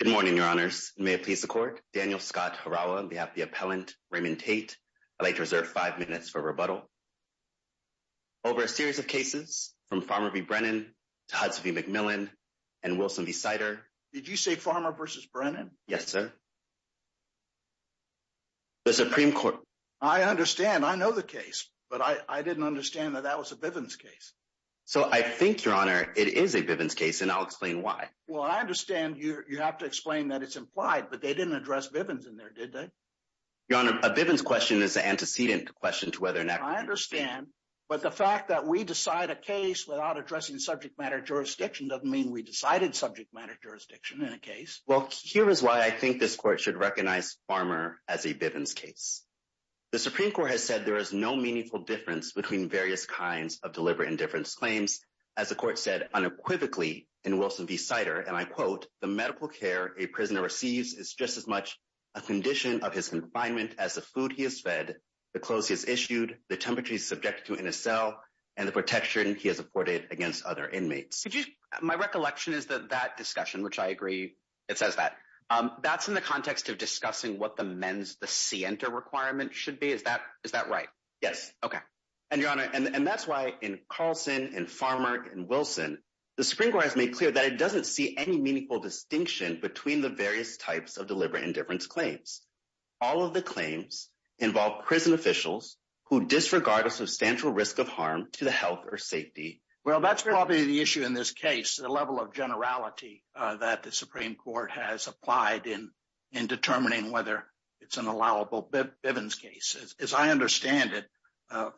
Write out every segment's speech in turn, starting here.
Good morning, your honors. May it please the court. Daniel Scott Harawa on behalf of the appellant Raymond Tate. I'd like to reserve five minutes for rebuttal over a series of cases from Farmer v. Brennan to Hudson v. McMillan and Wilson v. Sider. Did you say Farmer versus Brennan? Yes, sir. The Supreme Court... I understand. I know the case, but I didn't understand that that was a Bivens case. So I think, your honor, it is a Bivens case, and I'll explain why. Well, I understand you have to explain that it's implied, but they didn't address Bivens in there, did they? Your honor, a Bivens question is an antecedent question to whether or not... I understand, but the fact that we decide a case without addressing subject matter jurisdiction doesn't mean we decided subject matter jurisdiction in a case. Well, here is why I think this court should recognize Farmer as a Bivens case. The Supreme Court has said there is no meaningful difference between various kinds of deliberate indifference as the court said unequivocally in Wilson v. Sider, and I quote, the medical care a prisoner receives is just as much a condition of his confinement as the food he has fed, the clothes he has issued, the temperature he is subjected to in his cell, and the protection he has afforded against other inmates. My recollection is that that discussion, which I agree it says that, that's in the context of discussing what the men's, the scienter requirement should be. Is that right? Yes. Okay. And your honor, and that's why in Carlson and Farmer and Wilson, the Supreme Court has made clear that it doesn't see any meaningful distinction between the various types of deliberate indifference claims. All of the claims involve prison officials who disregard a substantial risk of harm to the health or safety. Well, that's probably the issue in this case, the level of generality that the Supreme Court has applied in determining whether it's an allowable Bivens case. As I understand it,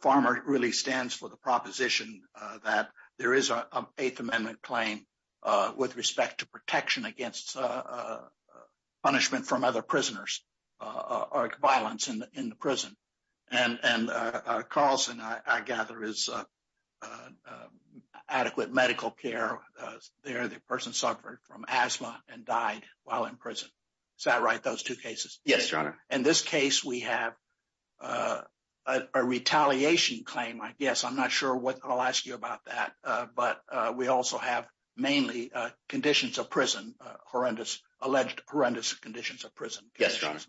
Farmer really stands for the proposition that there is an Eighth Amendment claim with respect to protection against punishment from other prisoners or violence in the prison. And Carlson, I gather, is adequate medical care there. The person suffered from asthma and died while in prison. Is that right, those two cases? Yes, your honor. In this case, we have a retaliation claim, I guess. I'm not sure what, I'll ask you about that. But we also have mainly conditions of prison, horrendous, alleged horrendous conditions of prison. Yes, your honor.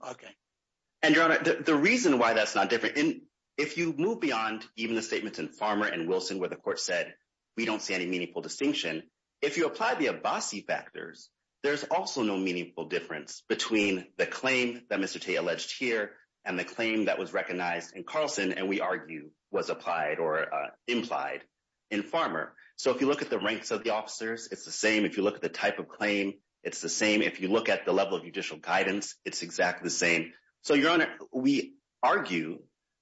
And your honor, the reason why that's not different, if you move beyond even the statements in Farmer and Wilson where the court said, we don't see any meaningful distinction, if you apply the Abbasi factors, there's also no meaningful difference between the claim that Mr. T alleged here and the claim that was recognized in Carlson and we argue was applied or implied in Farmer. So if you look at the ranks of the officers, it's the same. If you look at the type claim, it's the same. If you look at the level of judicial guidance, it's exactly the same. So your honor, we argue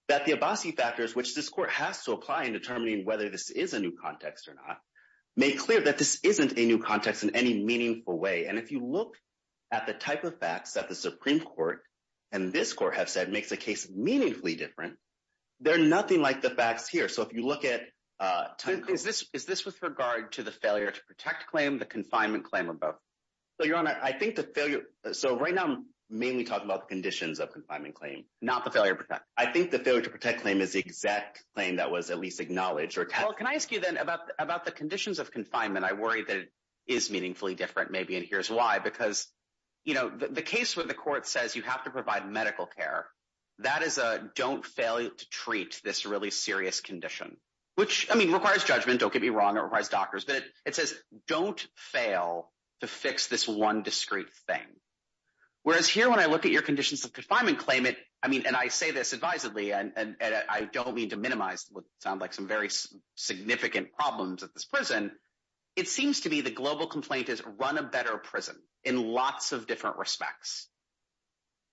that the Abbasi factors, which this court has to apply in determining whether this is a new context or not, make clear that this isn't a new context in any meaningful way. And if you look at the type of facts that the Supreme Court and this court have said makes the case meaningfully different, they're nothing like the facts here. So if you look at- Is this with regard to the failure to protect claim, the confinement claim, or both? So your honor, I think the failure- So right now, I'm mainly talking about the conditions of confinement claim. Not the failure to protect. I think the failure to protect claim is the exact claim that was at least acknowledged or tested. Well, can I ask you then about the conditions of confinement? I worry that it is meaningfully different maybe, and here's why. Because the case where the court says you have to provide medical care, that is a don't fail to treat this really serious condition, which requires judgment. Don't get me wrong. It requires doctors. But it says don't fail to fix this one discrete thing. Whereas here, when I look at your conditions of confinement claim, and I say this advisedly, and I don't mean to minimize what sound like some very significant problems at this prison, it seems to be the global complaint is run a better prison in lots of different respects.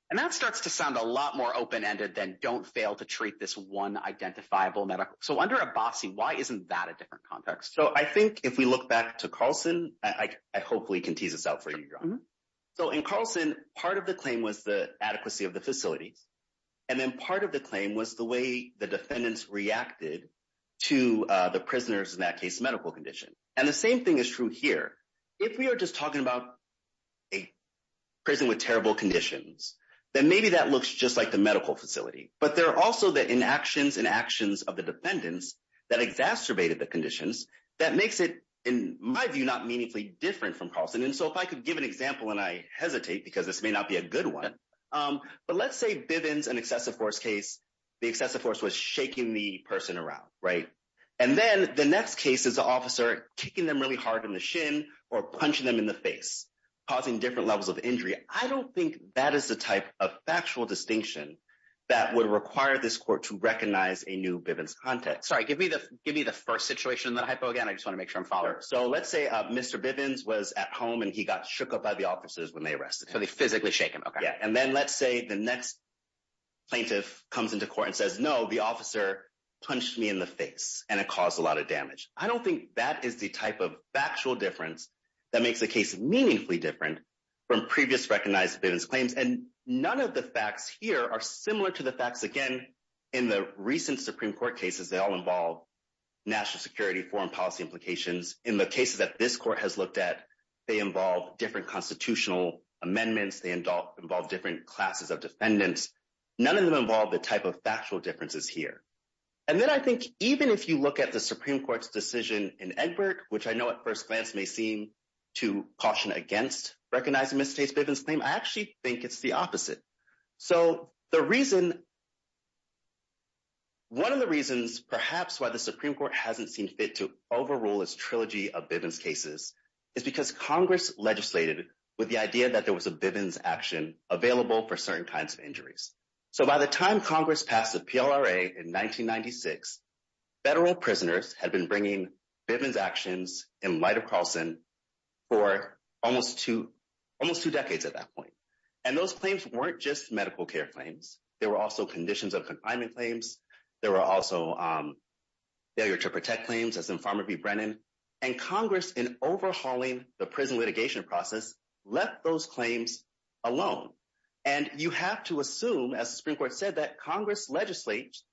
And that starts to sound a lot more open-ended than don't fail to treat this one identifiable medical. So under Abbasi, why isn't that a different context? So I think if we look back to Carlson, I hopefully can tease this out for you, your honor. So in Carlson, part of the claim was the adequacy of the facilities. And then part of the claim was the way the defendants reacted to the prisoners in that case medical condition. And the same thing is true here. If we are just talking about a prison with terrible conditions, then maybe that looks just like the medical facility. But there are also the inactions and actions of the defendants that exacerbated the conditions that makes it, in my view, not meaningfully different from Carlson. And so if I could give an example, and I hesitate because this may not be a good one, but let's say Bivens, an excessive force case, the excessive force was shaking the person around, right? And then the next case is the officer kicking them really hard in the shin or punching them in the face, causing different levels of injury. I don't think that is the type of factual distinction that would require this court to recognize a new Bivens context. Sorry, give me the first situation in the hypo again. I just want to make sure I'm following. So let's say Mr. Bivens was at home and he got shook up by the officers when they arrested him. So they physically shake him, okay. Yeah. And then let's say the next plaintiff comes into court and says, no, the officer punched me in the face and it caused a lot of damage. I don't think that is the type of factual difference that makes the case meaningfully different from previous recognized Bivens claims. And none of the facts here are similar to the facts, again, in the recent Supreme Court cases, they all involve national security, foreign policy implications. In the cases that this court has looked at, they involve different constitutional amendments. They involve different classes of defendants. None of them involve the type of factual differences here. And then I think even if you look at the Supreme Court's decision in Egbert, which I know at first glance may seem to caution against recognizing Mr. Bivens' claim, I actually think it's the opposite. So the reason, one of the reasons perhaps why the Supreme Court hasn't seen fit to overrule its trilogy of Bivens cases is because Congress legislated with the idea that there was a Bivens action available for certain kinds of injuries. So by the time Congress passed the PLRA in 1996, federal prisoners had been bringing Bivens actions in light of Carlson for almost two decades at that point. And those claims weren't just medical care claims. There were also conditions of confinement claims. There were also failure to protect claims, as in Farmer v. Brennan. And Congress, in overhauling the prison litigation process, left those claims alone. And you have to assume, as the Supreme Court legislates,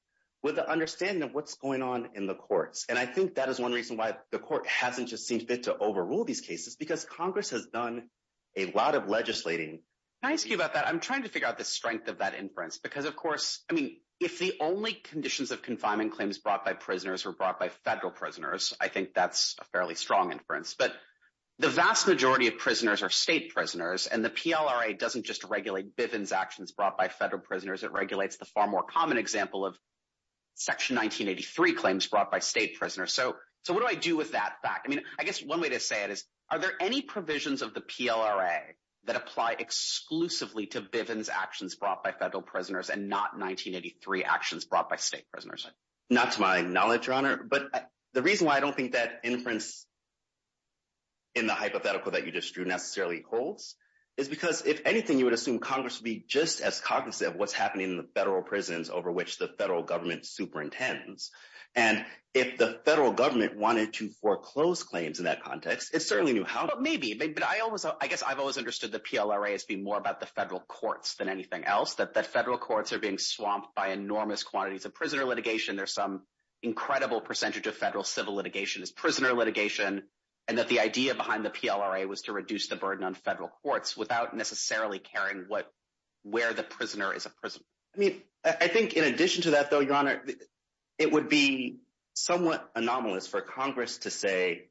with the understanding of what's going on in the courts. And I think that is one reason why the court hasn't just seen fit to overrule these cases, because Congress has done a lot of legislating. Can I ask you about that? I'm trying to figure out the strength of that inference. Because of course, I mean, if the only conditions of confinement claims brought by prisoners were brought by federal prisoners, I think that's a fairly strong inference. But the vast majority of prisoners are state prisoners. And the PLRA doesn't just regulate Bivens actions brought by federal prisoners. It regulates the far more common example of Section 1983 claims brought by state prisoners. So what do I do with that fact? I mean, I guess one way to say it is, are there any provisions of the PLRA that apply exclusively to Bivens actions brought by federal prisoners and not 1983 actions brought by state prisoners? Not to my knowledge, Your Honor. But the reason why I don't think that inference in the hypothetical that you just drew necessarily holds is because if anything, you would assume Congress would be just as cognizant of what's happening in the federal prisons over which the federal government superintends. And if the federal government wanted to foreclose claims in that context, it certainly knew how. Well, maybe. But I guess I've always understood the PLRA as being more about the federal courts than anything else, that the federal courts are being swamped by enormous quantities of prisoner litigation. There's some incredible percentage of federal civil litigation is without necessarily caring where the prisoner is a prisoner. I mean, I think in addition to that, though, Your Honor, it would be somewhat anomalous for Congress to say,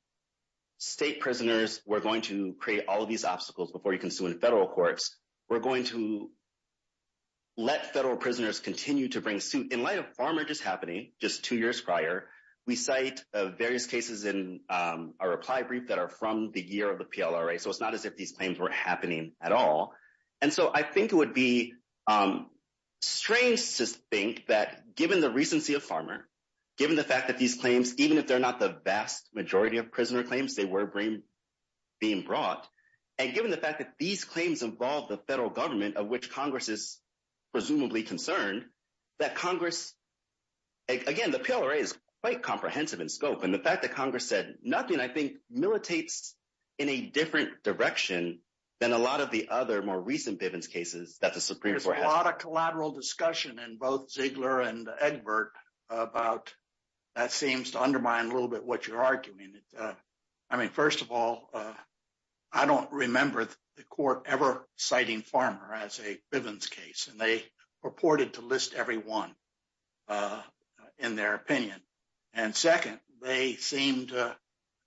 state prisoners, we're going to create all of these obstacles before you can sue in federal courts. We're going to let federal prisoners continue to bring suit. In light of far more just happening just two years prior, we cite various cases in our reply brief that are the year of the PLRA. So, it's not as if these claims were happening at all. And so, I think it would be strange to think that given the recency of farmer, given the fact that these claims, even if they're not the vast majority of prisoner claims, they were being brought. And given the fact that these claims involve the federal government of which Congress is presumably concerned, that Congress, again, the PLRA is quite comprehensive in scope. And the fact that Congress said nothing, I think, militates in a different direction than a lot of the other more recent Bivens cases that the Supreme Court has. There's a lot of collateral discussion in both Ziegler and Egbert about that seems to undermine a little bit what you're arguing. I mean, first of all, I don't remember the court ever citing farmer as a Bivens case, and they purported to list every one in their opinion. And second, they seem to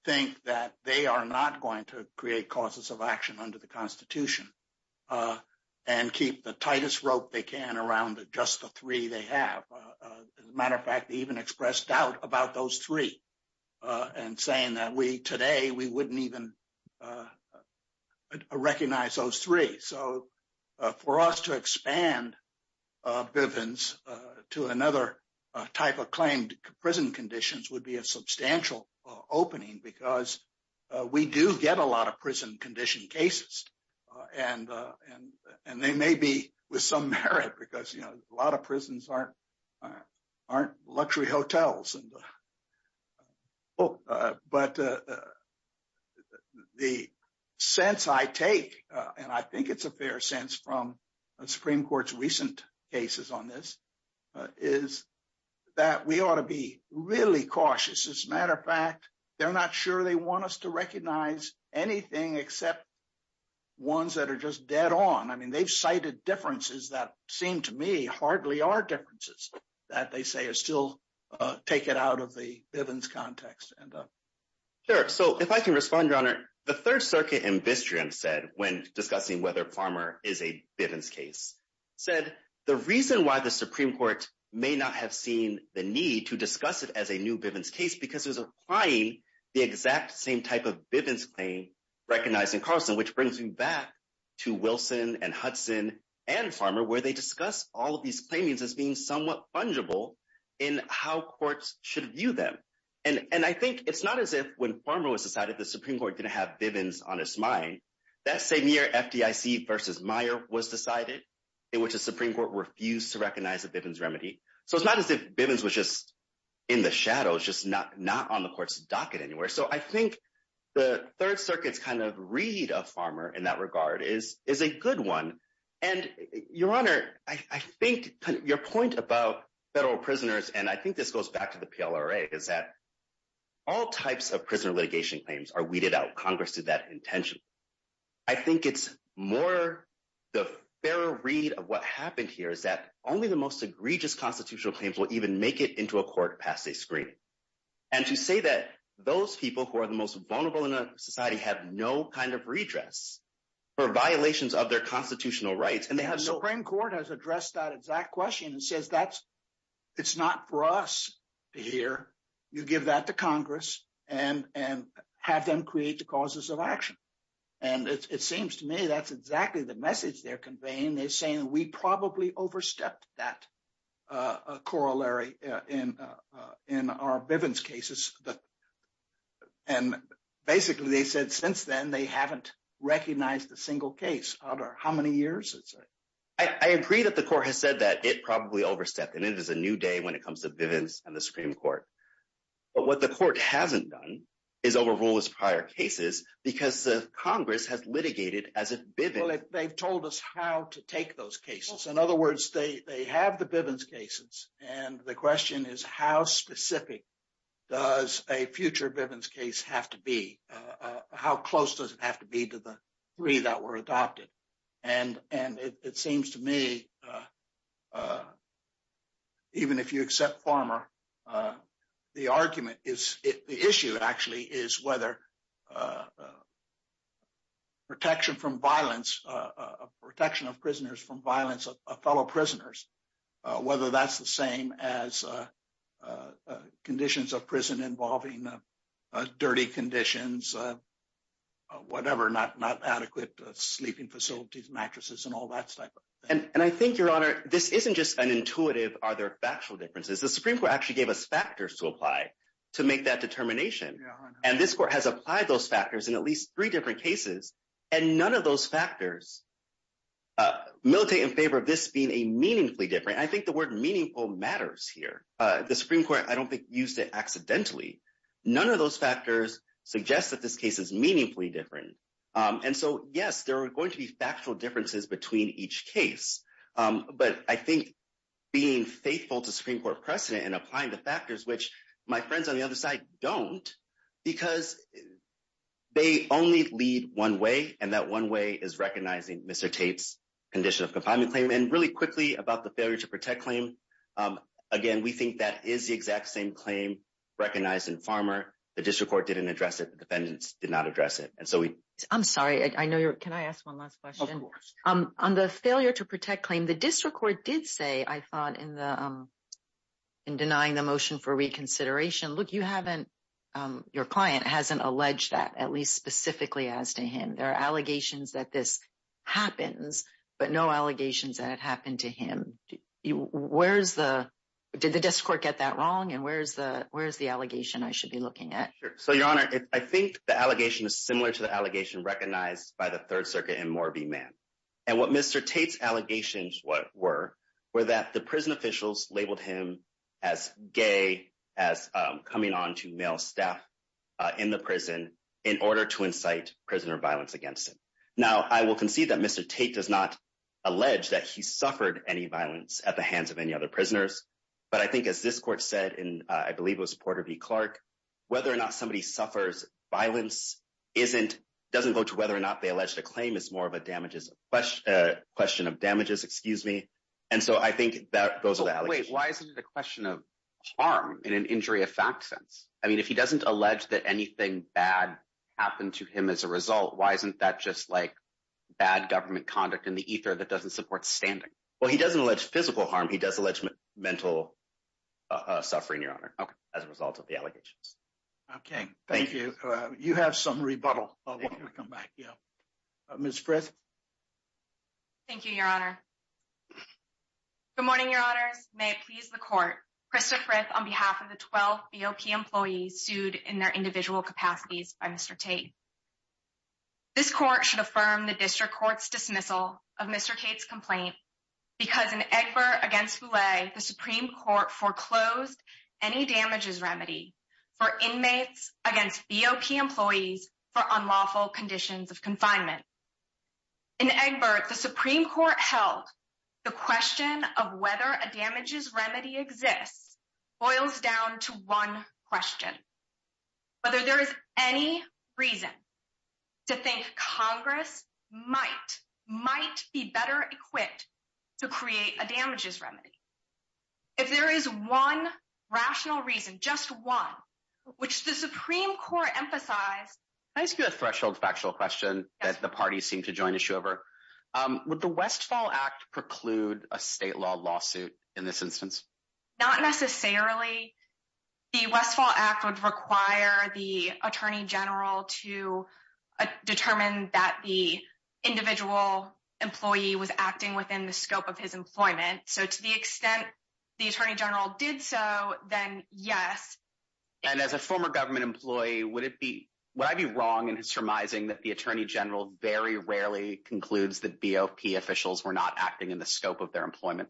think that they are not going to create causes of action under the Constitution and keep the tightest rope they can around just the three they have. As a matter of fact, they even expressed doubt about those three and saying that today, we for us to expand Bivens to another type of claimed prison conditions would be a substantial opening because we do get a lot of prison condition cases. And they may be with some merit because a lot of prisons aren't luxury hotels. But the sense I take, and I think it's a fair sense from the Supreme Court's recent cases on this, is that we ought to be really cautious. As a matter of fact, they're not sure they want us to recognize anything except ones that are just dead on. I mean, they've cited differences that seem to me hardly are differences that they say are still taken out of the Bivens context. Sure. So, if I can respond, Your Honor, the Third Circuit in Bistream said, when discussing whether Farmer is a Bivens case, said the reason why the Supreme Court may not have seen the need to discuss it as a new Bivens case because it was applying the exact same type of Bivens claim recognized in Carlson, which brings me back to Wilson and Hudson and Farmer, where they discuss all of these claimings as being somewhat fungible in how courts should view them. And I think it's not as if, when Farmer was decided, the Supreme Court didn't have Bivens on its mind. That same year, FDIC versus Meyer was decided, in which the Supreme Court refused to recognize a Bivens remedy. So, it's not as if Bivens was just in the shadows, just not on the court's docket anywhere. So, I think the Third Circuit's kind of read of Farmer in that regard is a good one. And Your Honor, I think your point about federal prisoners, and I think this goes back to the PLRA, is that all types of prisoner litigation claims are weeded out. Congress did that intentionally. I think it's more the fair read of what happened here is that only the most egregious constitutional claims will even make it into a court past a screening. And to say that those people who are the most vulnerable in a society have no kind of redress or violations of their constitutional rights, and they have no... The Supreme Court has addressed that exact question and says, it's not for us to hear. You give that to Congress and have them create the causes of action. And it seems to me that's exactly the message they're conveying. They're saying, we probably overstepped that corollary in our Bivens cases. And basically, they said, since then, they haven't recognized a single case out of how many years? I agree that the court has said that it probably overstepped. And it is a new day when it comes to Bivens and the Supreme Court. But what the court hasn't done is overrule its prior cases because the Congress has litigated as a Biven. They've told us how to take those cases. In other words, they have the Bivens cases and the question is, how specific does a future Bivens case have to be? How close does it have to be to the three that were adopted? And it seems to me, even if you accept Farmer, the argument is... The issue actually is whether protection from violence, protection of prisoners from violence of fellow prisoners, whether that's the same as conditions of prison involving dirty conditions, whatever, not adequate sleeping facilities, mattresses, and all that type of thing. And I think, Your Honor, this isn't just an intuitive, are there factual differences? The Supreme Court actually gave us factors to apply to make that determination. And this court has applied those factors in at least three different cases. And none of those factors are militating in favor of this being a meaningfully different. I think the word meaningful matters here. The Supreme Court, I don't think used it accidentally. None of those factors suggest that this case is meaningfully different. And so, yes, there are going to be factual differences between each case. But I think being faithful to Supreme Court precedent and applying the factors, which my friends on the other side don't, because they only lead one way and that one way is recognizing Mr. Tate's condition of confinement claim. And really quickly about the failure to protect claim. Again, we think that is the exact same claim recognized in Farmer. The district court didn't address it. The defendants did not address it. And so, we... I'm sorry. I know you're... Can I ask one last question? Of course. On the failure to protect claim, the district court did say, I thought, in denying the motion for reconsideration, look, you haven't... There are allegations that this happens, but no allegations that it happened to him. Where's the... Did the district court get that wrong? And where's the allegation I should be looking at? Sure. So, Your Honor, I think the allegation is similar to the allegation recognized by the Third Circuit in Morby Man. And what Mr. Tate's allegations were, were that the prison officials labeled him as gay, as coming on to male staff in the prison in order to incite prisoner violence against him. Now, I will concede that Mr. Tate does not allege that he suffered any violence at the hands of any other prisoners. But I think as this court said, and I believe it was Porter v. Clark, whether or not somebody suffers violence doesn't go to whether or not they allege the claim is more of a question of damages. Excuse me. And so, I think that goes to the allegation. Why isn't it a question of harm in an injury of fact sense? I mean, if he doesn't allege that anything bad happened to him as a result, why isn't that just like bad government conduct in the ether that doesn't support standing? Well, he doesn't allege physical harm. He does allege mental suffering, Your Honor, as a result of the allegations. Okay. Thank you. You have some rebuttal. I'll come back. Yeah. Ms. Frist. Thank you, Your Honor. Good morning, Your Honors. May it please the court. Krista Frith on behalf of the 12 BOP employees sued in their individual capacities by Mr. Tate. This court should affirm the district court's dismissal of Mr. Tate's complaint because in Egbert v. Voulet, the Supreme Court foreclosed any damages remedy for inmates against BOP employees for unlawful conditions of confinement. In Egbert, the Supreme Court held the question of whether a damages remedy exists boils down to one question, whether there is any reason to think Congress might be better equipped to create a damages remedy. If there is one rational reason, just one, which the Supreme Court emphasized... Can I ask you a threshold factual question that the parties seem to join issue over? Would the Westfall Act preclude a state law lawsuit in this instance? Not necessarily. The Westfall Act would require the attorney general to determine that the attorney general did so, then yes. And as a former government employee, would I be wrong in surmising that the attorney general very rarely concludes that BOP officials were not acting in the scope of their employment?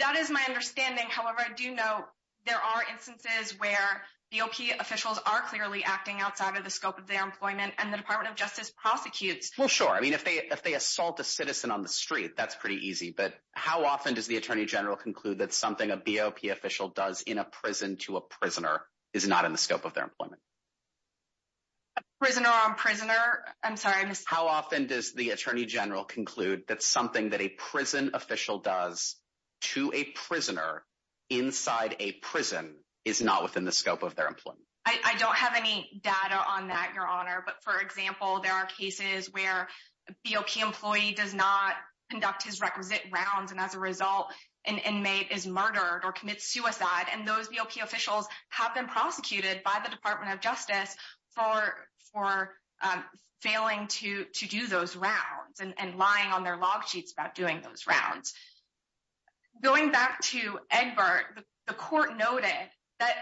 That is my understanding. However, I do know there are instances where BOP officials are clearly acting outside of the scope of their employment and the Department of Justice prosecutes. Well, sure. I mean, if they assault a citizen on the street, that's pretty easy. But how often does the attorney general conclude that something a BOP official does in a prison to a prisoner is not in the scope of their employment? Prisoner on prisoner. I'm sorry. How often does the attorney general conclude that something that a prison official does to a prisoner inside a prison is not within the scope of their employment? I don't have any data on that, Your Honor. But for example, there are cases where a BOP employee does not conduct his requisite rounds. And as a result, an inmate is murdered or commits suicide. And those BOP officials have been prosecuted by the Department of Justice for failing to do those rounds and lying on their log sheets about doing those rounds. Going back to Egbert, the court noted that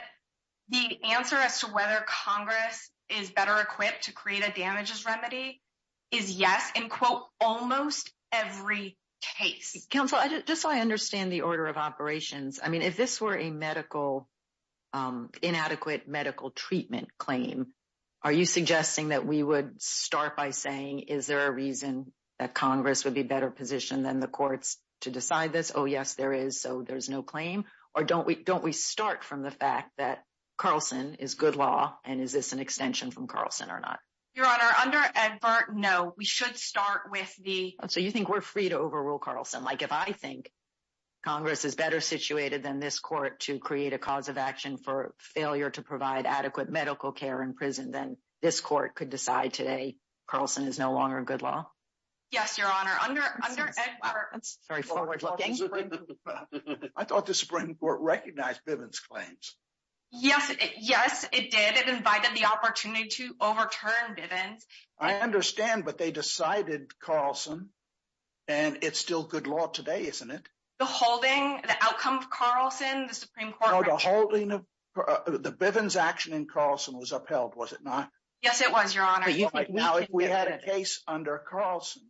the answer as to whether Congress is better equipped to create a damages remedy is yes in, quote, almost every case. Counsel, just so I understand the order of operations. I mean, if this were a inadequate medical treatment claim, are you suggesting that we would start by saying, is there a reason that Congress would be better positioned than the courts to decide this? Oh, yes, there is. So there's no claim. Or don't we start from the fact that Carlson is good law? And is this an extension from Carlson or not? Your Honor, under Egbert, no. We should start with the- So you think we're free to overrule Carlson? Like if I think Congress is better situated than this court to create a cause of action for failure to provide adequate medical care in prison, then this court could decide today Carlson is no longer good law? Yes, Your Honor. Under Egbert- Sorry, forward looking. I thought the Supreme Court recognized Bivens' claims. Yes, it did. It invited the opportunity to overturn Bivens. I understand, but they decided Carlson and it's still good law today, isn't it? The holding, the outcome of Carlson, the Supreme Court- No, the holding of the Bivens' action in Carlson was upheld, was it not? Yes, it was, Your Honor. Now, if we had a case under Carlson,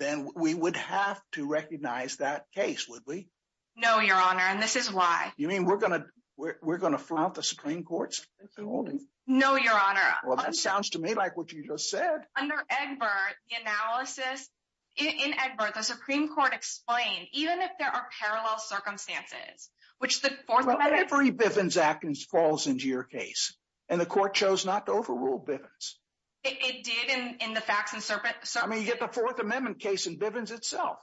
then we would have to recognize that case, would we? No, Your Honor, and this is why. You mean we're going to flout the Supreme Court's holding? No, Your Honor. Well, that sounds to me like what you just said. Under Egbert, the analysis, in Egbert, the Supreme Court explained, even if there are parallel circumstances, which the Fourth Amendment- Every Bivens' actions falls into your case, and the court chose not to overrule Bivens. It did in the facts and circumstances. I mean, you get the Fourth Amendment case in Bivens itself.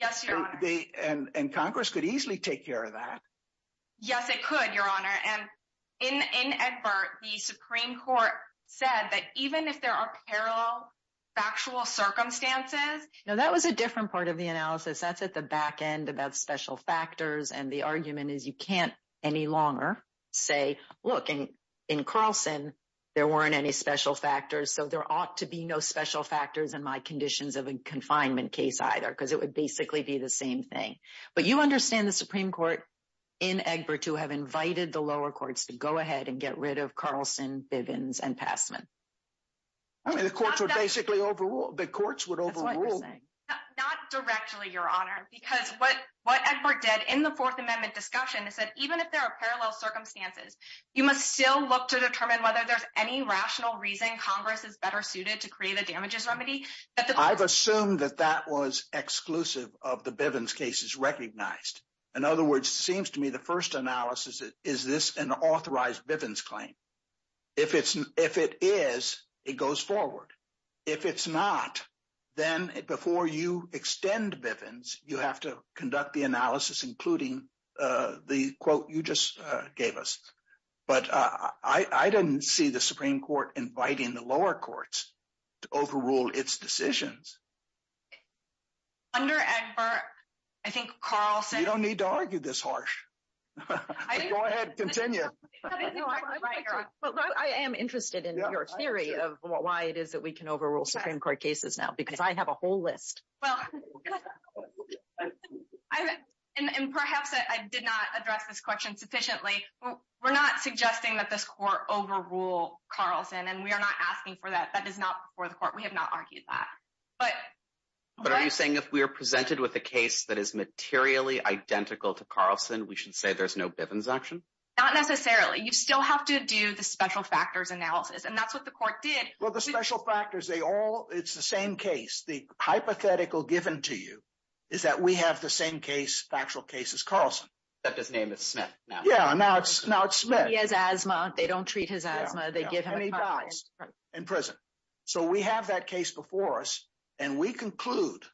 Yes, Your Honor. And Congress could easily take care of that. Yes, it could, Your Honor, and in Egbert, the Supreme Court said that even if there are parallel factual circumstances- Now, that was a different part of the analysis. That's at the back end about special factors, and the argument is you can't any longer say, look, in Carlson, there weren't any special factors, so there ought to be no special factors in my conditions of confinement case either, because it would basically be the same thing. But you understand the Supreme Court in Egbert to have invited the lower courts to go ahead and get rid of Carlson, Bivens, and Passman. I mean, the courts would basically overrule- The courts would overrule- That's what I'm saying. Not directly, Your Honor, because what Egbert did in the Fourth Amendment discussion is that even if there are parallel circumstances, you must still look to determine whether I've assumed that that was exclusive of the Bivens cases recognized. In other words, it seems to me the first analysis is, is this an authorized Bivens claim? If it is, it goes forward. If it's not, then before you extend Bivens, you have to conduct the analysis including the quote you just gave us. But I didn't see the Supreme Court inviting the lower courts to overrule its decision. Under Egbert, I think Carlson- You don't need to argue this harsh. Go ahead, continue. I am interested in your theory of why it is that we can overrule Supreme Court cases now, because I have a whole list. And perhaps I did not address this question sufficiently. We're not suggesting that this court overrule Carlson, and we are not asking for that. That is not before the court. We have not argued that. But are you saying if we are presented with a case that is materially identical to Carlson, we should say there's no Bivens action? Not necessarily. You still have to do the special factors analysis, and that's what the court did. Well, the special factors, they all, it's the same case. The hypothetical given to you is that we have the same case, factual case as Carlson. Except his name is Smith now. Yeah, now it's Smith. He has asthma. They don't treat his asthma. They give him- And he dies in prison. So we have that case before us, and we conclude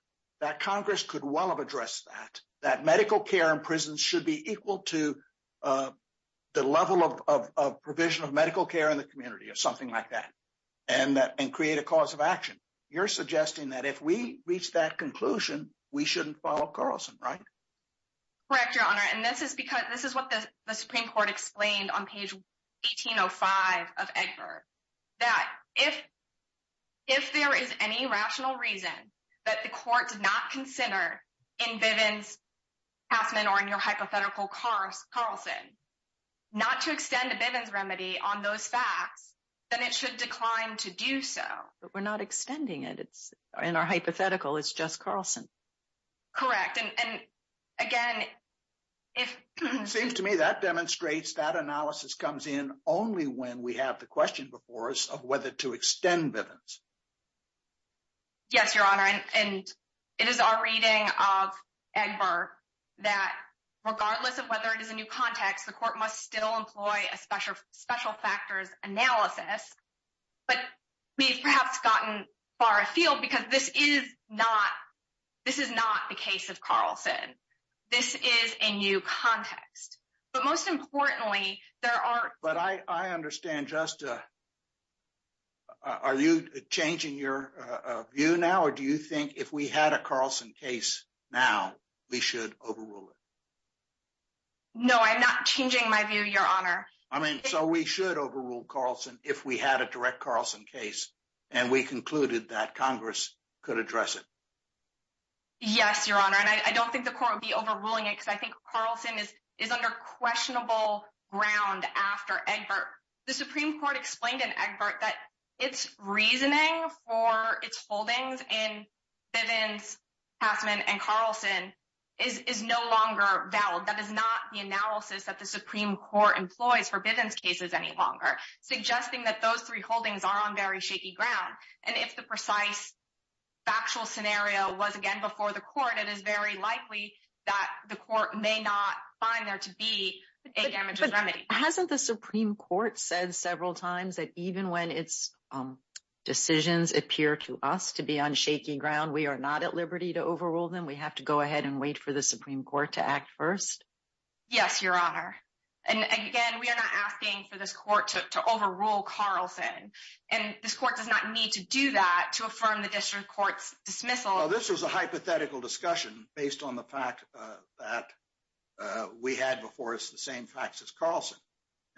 that Congress could well have addressed that, that medical care in prisons should be equal to the level of provision of medical care in the community or something like that, and create a cause of action. You're suggesting that if we reach that conclusion, we shouldn't follow Carlson, right? Correct, Your Honor. And this is because, this is what the Supreme Court explained on page 1805 of Egbert, that if there is any rational reason that the court did not consider in Bivens-Hassman, or in your hypothetical Carlson, not to extend a Bivens remedy on those facts, then it should decline to do so. But we're not extending it. It's, in our hypothetical, it's just Carlson. Correct, and again, if- It seems to me that demonstrates that analysis comes in only when we have the question before us of whether to extend Bivens. Yes, Your Honor, and it is our reading of Egbert that regardless of whether it is a new context, the court must still employ a special factors analysis. But we've perhaps gotten far afield because this is not the case of Carlson. This is a new context. But most importantly, there are- I understand just, are you changing your view now? Or do you think if we had a Carlson case now, we should overrule it? No, I'm not changing my view, Your Honor. I mean, so we should overrule Carlson if we had a direct Carlson case, and we concluded that Congress could address it. Yes, Your Honor, and I don't think the court would be overruling it, I think Carlson is under questionable ground after Egbert. The Supreme Court explained in Egbert that its reasoning for its holdings in Bivens, Passman, and Carlson is no longer valid. That is not the analysis that the Supreme Court employs for Bivens cases any longer, suggesting that those three holdings are on very shaky ground. And if the precise factual scenario was, again, before the court, it is very likely that the court may not find there to be a damages remedy. Hasn't the Supreme Court said several times that even when its decisions appear to us to be on shaky ground, we are not at liberty to overrule them? We have to go ahead and wait for the Supreme Court to act first? Yes, Your Honor. And again, we are not asking for this court to overrule Carlson. And this court does not need to do that to affirm the district court's dismissal. This was a hypothetical discussion based on the fact that we had before us the same facts as Carlson.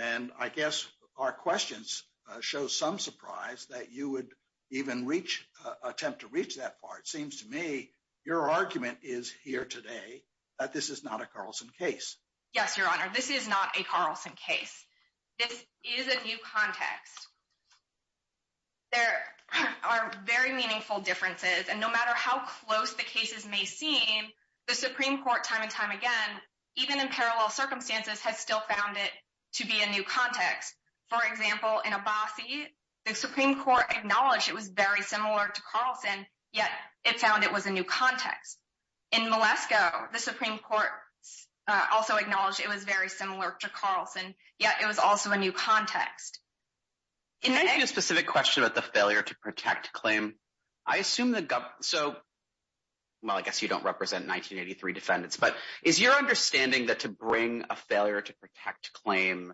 And I guess our questions show some surprise that you would even attempt to reach that far. It seems to me your argument is here today that this is not a Carlson case. Yes, Your Honor. This is not a Carlson case. This is a new context. There are very meaningful differences. And no matter how close the cases may seem, the Supreme Court time and time again, even in parallel circumstances, has still found it to be a new context. For example, in Abbasi, the Supreme Court acknowledged it was very similar to Carlson, yet it found it was a new context. In Malesko, the Supreme Court also acknowledged it was very similar to Carlson, yet it was also a new context. Can I ask you a specific question about the failure to protect claim? I assume the government, so, well, I guess you don't represent 1983 defendants, but is your understanding that to bring a failure to protect claim,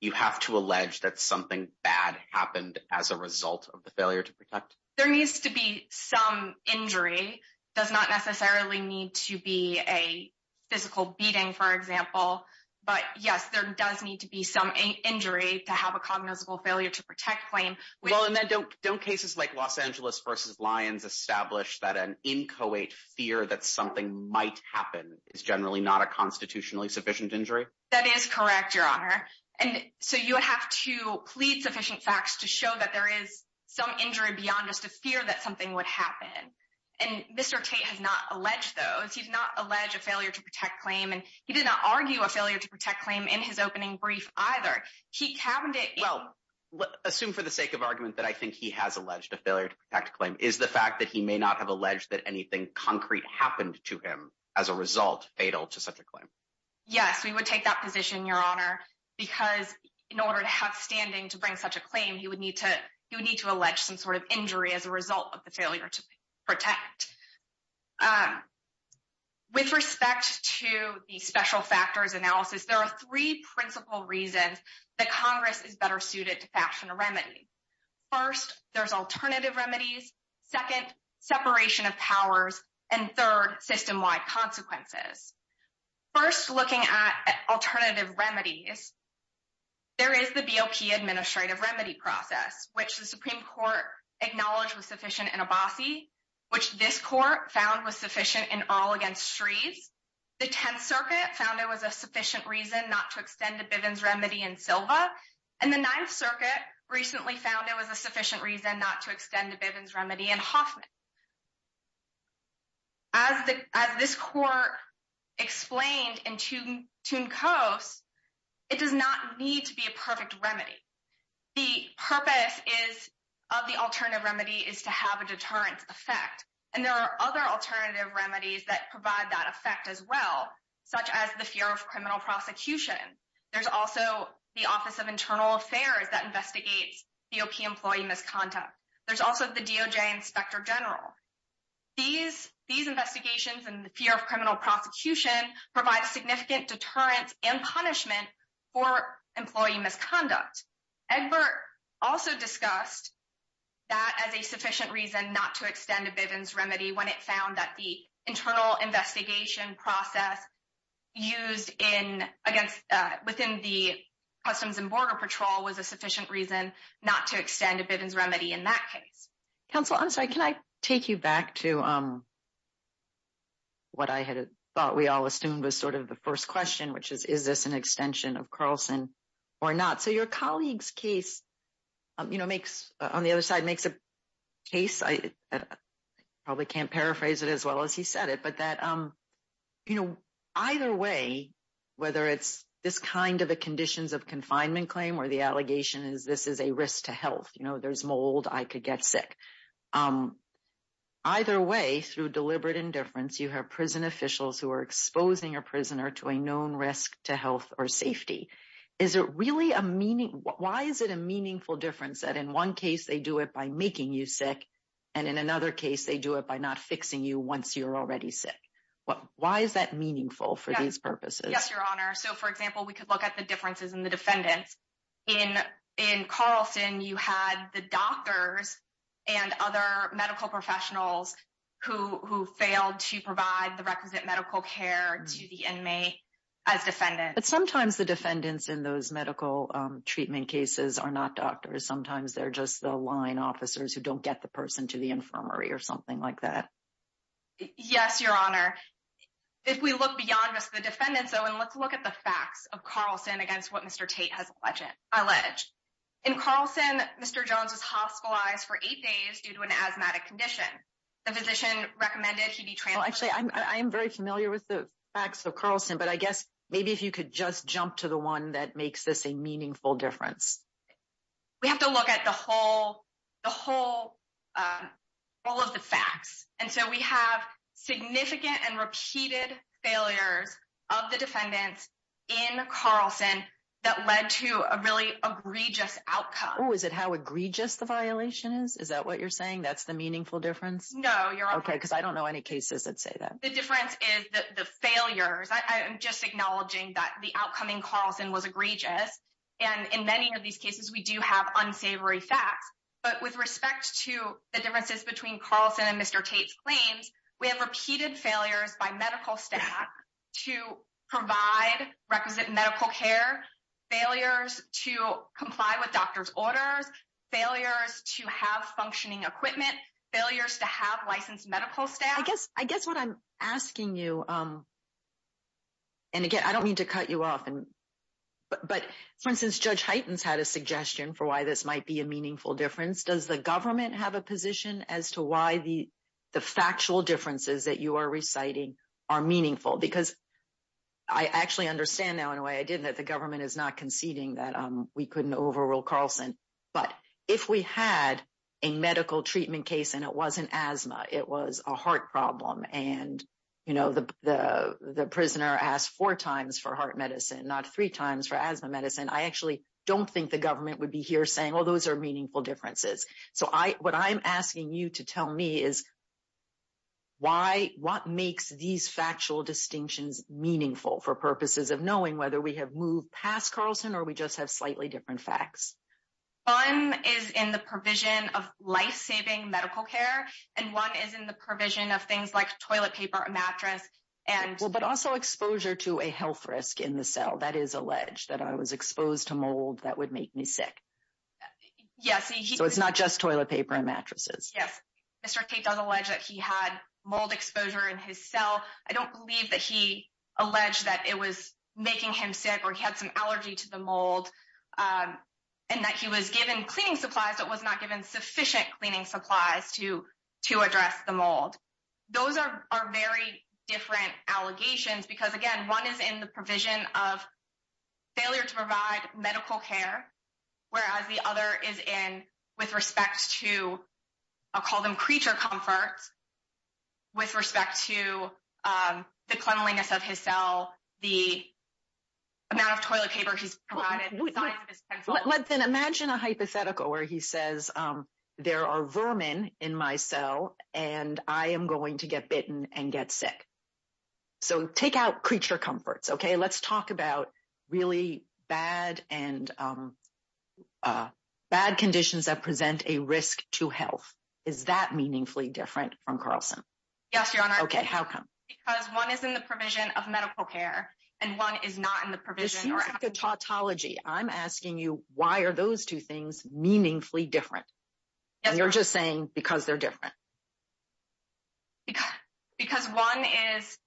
you have to allege that something bad happened as a result of the failure to protect? There needs to be some injury, does not necessarily need to be a physical beating, for example. But yes, there does need to be some injury to have a cognizable failure to protect claim. Well, and then don't cases like Los Angeles versus Lyons establish that an inchoate fear that something might happen is generally not a constitutionally sufficient injury? That is correct, Your Honor. And so you would have to plead sufficient facts to show that there is some injury beyond just a fear that something would happen. And Mr. Tate has not alleged those. He's not alleged a failure to protect claim. And he did not argue a failure to protect claim in his brief either. He cabinet. Well, let's assume for the sake of argument that I think he has alleged a failure to protect claim is the fact that he may not have alleged that anything concrete happened to him as a result fatal to such a claim. Yes, we would take that position, Your Honor, because in order to have standing to bring such a claim, you would need to, you need to allege some sort of injury as a result of the failure to protect. Um, with respect to the special factors analysis, there are three principal reasons that Congress is better suited to fashion a remedy. First, there's alternative remedies, second, separation of powers, and third system wide consequences. First, looking at alternative remedies, there is the BOP administrative remedy process, which the court found was sufficient in all against trees. The 10th circuit found it was a sufficient reason not to extend the Bivens remedy and Silva. And the ninth circuit recently found it was a sufficient reason not to extend the Bivens remedy and Hoffman. As the, as this court explained in tune tune coasts, it does not need to be a perfect remedy. The purpose is of the other alternative remedies that provide that effect as well, such as the fear of criminal prosecution. There's also the office of internal affairs that investigates BOP employee misconduct. There's also the DOJ inspector general. These, these investigations and the fear of criminal prosecution provides significant deterrence and punishment for employee misconduct. Egbert also discussed that as a sufficient reason not to extend a Bivens remedy when it found that the internal investigation process used in against, uh, within the customs and border patrol was a sufficient reason not to extend a Bivens remedy in that case. Counsel, I'm sorry, can I take you back to, um, what I had thought we all assumed was sort of the first question, which is, is this an extension of Carlson or not? So your colleague's case, you know, makes on the other side makes a case. I probably can't paraphrase it as well as he said it, but that, um, you know, either way, whether it's this kind of a conditions of confinement claim or the allegation is this is a risk to health, you know, there's mold, I could get sick. Either way, through deliberate indifference, you have prison officials who are exposing your prisoner to a known risk to health or safety. Is it really a meaning? Why is it a meaningful difference that in one case they do it by making you sick? And in another case, they do it by not fixing you once you're already sick. What, why is that meaningful for these purposes? Yes, your honor. So for example, we could look at the differences in the defendants in, in Carlson, you had the doctors and other medical professionals who, who failed to provide the requisite medical care to the inmate as defendant. But sometimes the defendants in those medical treatment cases are not doctors. Sometimes they're just the line officers who don't get the person to the infirmary or something like that. Yes, your honor. If we look beyond just the defendants though, and let's look at the facts of Carlson against what Mr. Tate has alleged. In Carlson, Mr. Jones was hospitalized for eight days due to an asthmatic condition. The physician recommended he be transferred. Actually, I'm very familiar with the facts of Carlson, but I guess maybe if you could just jump to the one that makes this a meaningful difference. We have to look at the whole, the whole, all of the facts. And so we have significant and repeated failures of the defendants in Carlson that led to a really egregious outcome. Oh, is it how egregious the violation is? Is that what you're saying? That's meaningful difference? No, your honor. Okay, because I don't know any cases that say that. The difference is the failures. I'm just acknowledging that the outcoming Carlson was egregious. And in many of these cases, we do have unsavory facts. But with respect to the differences between Carlson and Mr. Tate's claims, we have repeated failures by medical staff to provide requisite medical care, failures to comply with doctor's orders, failures to have functioning equipment, failures to have licensed medical staff. I guess what I'm asking you, and again, I don't mean to cut you off, but for instance, Judge Hyten's had a suggestion for why this might be a meaningful difference. Does the government have a position as to why the factual differences that you are reciting are meaningful? Because I actually understand now in a way I didn't, that the government is not conceding that we couldn't overrule Carlson. But if we had a medical treatment case and it wasn't asthma, it was a heart problem. And, you know, the prisoner asked four times for heart medicine, not three times for asthma medicine. I actually don't think the government would be here saying, well, those are meaningful differences. So, what I'm asking you to tell me is why, what makes these factual distinctions meaningful for purposes of knowing whether we have moved past Carlson or we just have slightly different facts? One is in the provision of life-saving medical care, and one is in the provision of things like toilet paper, a mattress, and- Well, but also exposure to a health risk in the cell. That is alleged, that I was exposed to mold that would make me sick. Yes, he- So, it's not just toilet paper and mattresses. Yes. Mr. Tate does allege that he had mold exposure in his cell. I don't believe that he was making him sick or he had some allergy to the mold and that he was given cleaning supplies, but was not given sufficient cleaning supplies to address the mold. Those are very different allegations because, again, one is in the provision of failure to provide medical care, whereas the other is in with respect to, I'll call them creature comforts, with respect to the cleanliness of his cell, the amount of toilet paper he's provided, the size of his pencil. Let's then imagine a hypothetical where he says, there are vermin in my cell and I am going to get bitten and get sick. So, take out creature comforts, okay? Let's talk about really bad conditions that present a risk to health. Is that meaningfully different from Carlson? Yes, Your Honor. Okay, how come? Because one is in the provision of medical care and one is not in the provision- This seems like a tautology. I'm asking you, why are those two things meaningfully different? Yes, Your Honor. And you're just saying because they're different. Because one is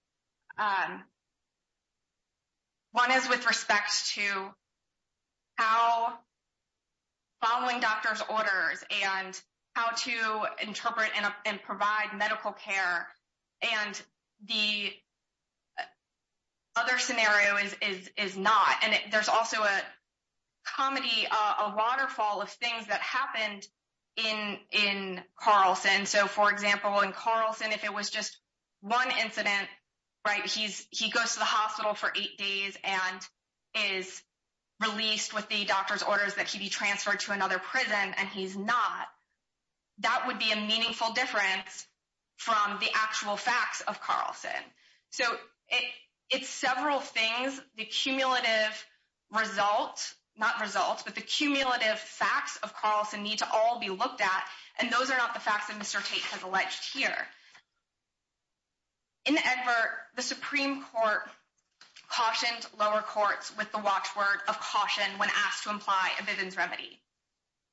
with respect to how following doctor's orders and how to interpret and provide medical care, and the other scenario is not. And there's also a comedy, a waterfall of things that happened in Carlson. So, for example, in Carlson, if it was just one incident, right, he goes to the hospital for eight days and is released with the doctor's orders that he be transferred to another prison, and he's not, that would be a meaningful difference from the actual facts of Carlson. So, it's several things, the cumulative results, not results, but the cumulative facts of Carlson need to all be looked at. And those are not the facts that Mr. Tate has alleged here. In the advert, the Supreme Court cautioned lower courts with the watchword of caution when asked to imply a Vivian's remedy.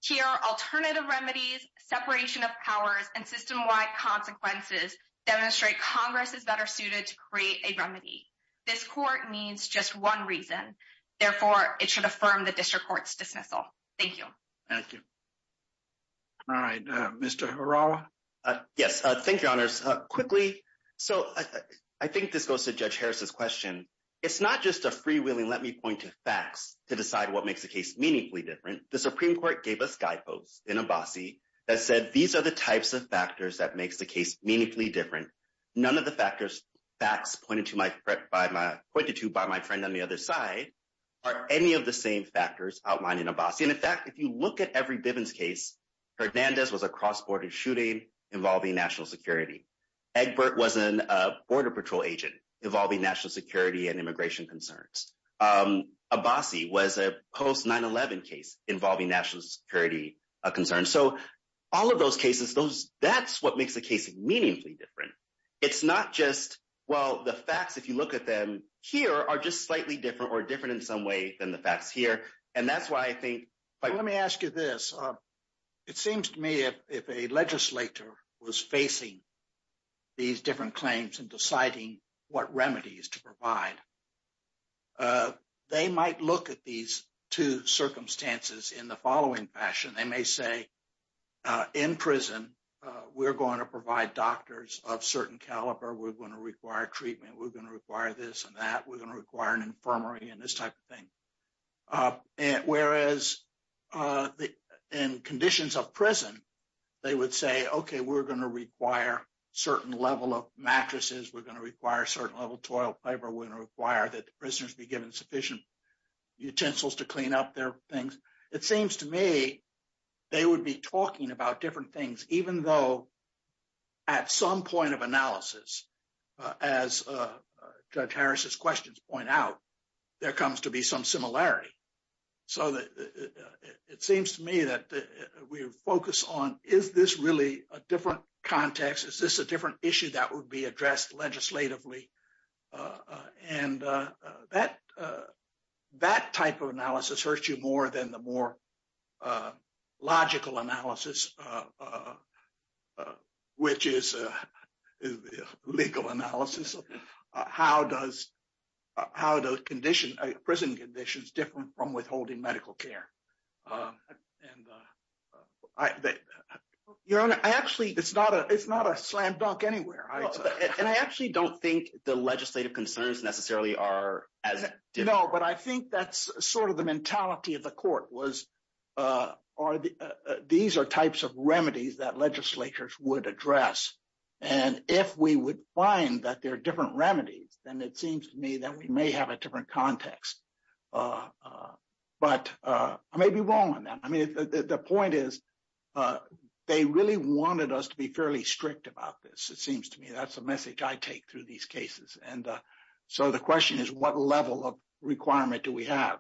Here, alternative remedies, separation of powers, and system-wide consequences demonstrate Congress is better suited to create a remedy. This court needs just one reason. Therefore, it should affirm the district court's dismissal. Thank you. Thank you. All right, Mr. Harawa? Yes. Thank you, Your Honors. Quickly. So, I think this goes to Judge Harris's question. It's not just a freewheeling, let me point to facts to decide what makes the case meaningfully different. The Supreme Court gave us guideposts in Abbasi that said, these are the types of factors that makes the case meaningfully different. None of the factors, facts pointed to by my friend on the other side are any of the same factors outlined in Abbasi. And in fact, if you look at every shooting involving national security, Egbert was a border patrol agent involving national security and immigration concerns. Abbasi was a post 9-11 case involving national security concerns. So, all of those cases, that's what makes the case meaningfully different. It's not just, well, the facts, if you look at them here are just slightly different or different in some way than the facts here. And that's why I think- Let me ask you this. It seems to me if a legislator was facing these different claims and deciding what remedies to provide, they might look at these two circumstances in the following fashion. They may say, in prison, we're going to provide doctors of certain caliber, we're going to require treatment, we're going to require this and that, we're going to require an infirmary and this type of thing. Whereas, in conditions of prison, they would say, okay, we're going to require a certain level of mattresses, we're going to require a certain level of toilet paper, we're going to require that the prisoners be given sufficient utensils to clean up their things. It seems to me, they would be talking about different things, even though at some point of analysis, as Judge Harris's questions point out, there comes to be some similarity. So, it seems to me that we focus on, is this really a different context? Is this a different issue that would be addressed legislatively? And that type of analysis hurts you more than the more logical analysis, which is legal analysis. How do prison conditions differ from withholding medical care? Your Honor, it's not a slam dunk anywhere. And I actually don't think the legislative concerns necessarily are as different. But I think that's sort of the mentality of the court was, these are types of remedies that legislatures would address. And if we would find that they're different remedies, then it seems to me that we may have a different context. But I may be wrong on that. I mean, the point is, they really wanted us to be fairly strict about this. It seems to me that's the message I take through these cases. And so, the question is, what level of requirement do we have?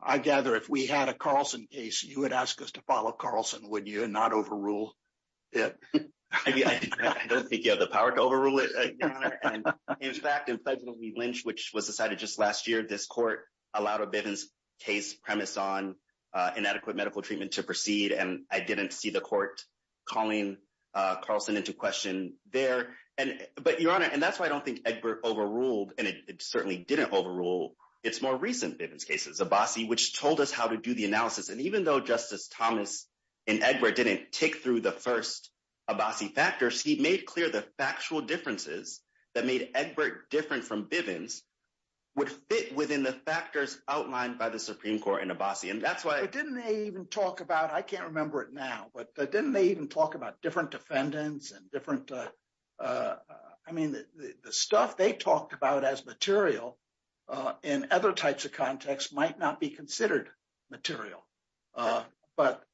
I gather if we had a Carlson case, you would ask us to follow Carlson, would you, and not overrule it? I don't think you have the power to overrule it, Your Honor. In fact, in Federal v. Lynch, which was decided just last year, this court allowed a Bivens case premise on inadequate medical treatment to proceed. And I didn't see the court calling Carlson into question there. But Your Honor, and that's why I don't think Egbert overruled, and it certainly didn't overrule, its more recent Bivens cases, Abassi, which told us how to do the analysis. And even though Justice Thomas and Egbert didn't take through the first Abassi factors, he made clear the factual differences that made Egbert different from Bivens would fit within the factors outlined by the Supreme Court in Abassi. And that's why- But didn't they even talk about, I can't remember it now, but didn't they even talk about different defendants and different, I mean, the stuff they talked about as material in other types of contexts might not be considered material. But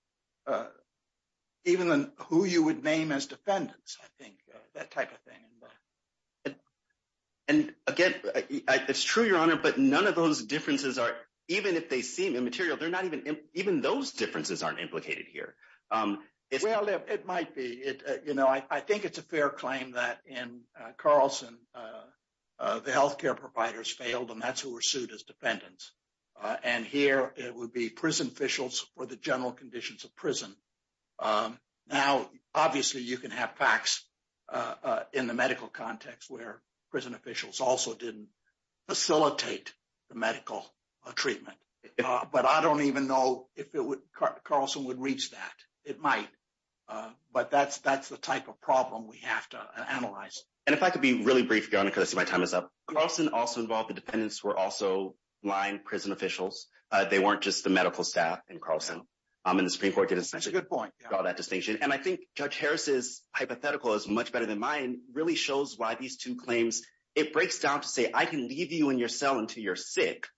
even who you would name as defendants, I think, that type of thing. And again, it's true, Your Honor, but none of those differences are, even if they seem immaterial, they're not even, even those differences aren't implicated here. Well, it might be. You know, I think it's a fair claim that in Carlson, the healthcare providers failed, and that's who were sued as defendants. And here, it would be prison officials for the general conditions of prison. Now, obviously, you can have facts in the medical context where prison officials also didn't facilitate the medical treatment. But I don't even know if it would, Carlson would reach that. It might. But that's the type of problem we have to analyze. And if I could be really brief, Your Honor, because I see my time is up. Carlson also involved the defendants were also lying prison officials. They weren't just the medical staff in Carlson. And the Supreme Court did essentially- That's a good point. Draw that distinction. And I think Judge Harris's hypothetical is much better than mine, really shows why these two claims, it breaks down to say, I can leave you in your cell until you're sick.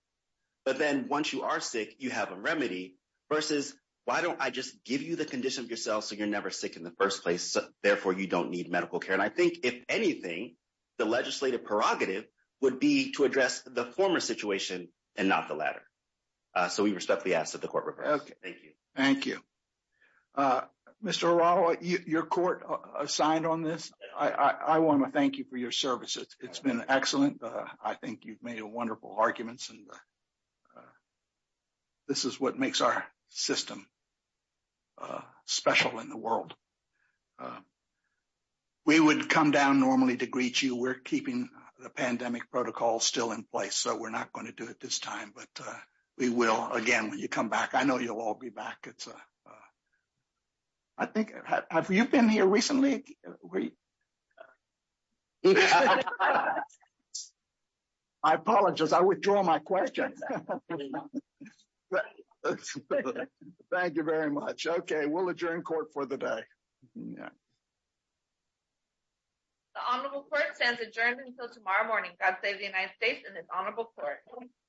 You have a remedy versus why don't I just give you the condition of your cell so you're never sick in the first place. Therefore, you don't need medical care. And I think if anything, the legislative prerogative would be to address the former situation and not the latter. So, we respectfully ask that the court reverse. Thank you. Thank you. Mr. O'Rourke, your court assigned on this. I want to thank you for your service. It's been excellent. I think you've made a wonderful arguments and this is what makes our system special in the world. We would come down normally to greet you. We're keeping the pandemic protocol still in place. So, we're not going to do it this time, but we will again when you come back. I know you'll all be back. I think, have you been here recently? I apologize. I withdraw my question. Thank you very much. Okay. We'll adjourn court for the day. The honorable court stands adjourned until tomorrow morning. God save the United States and its honorable court.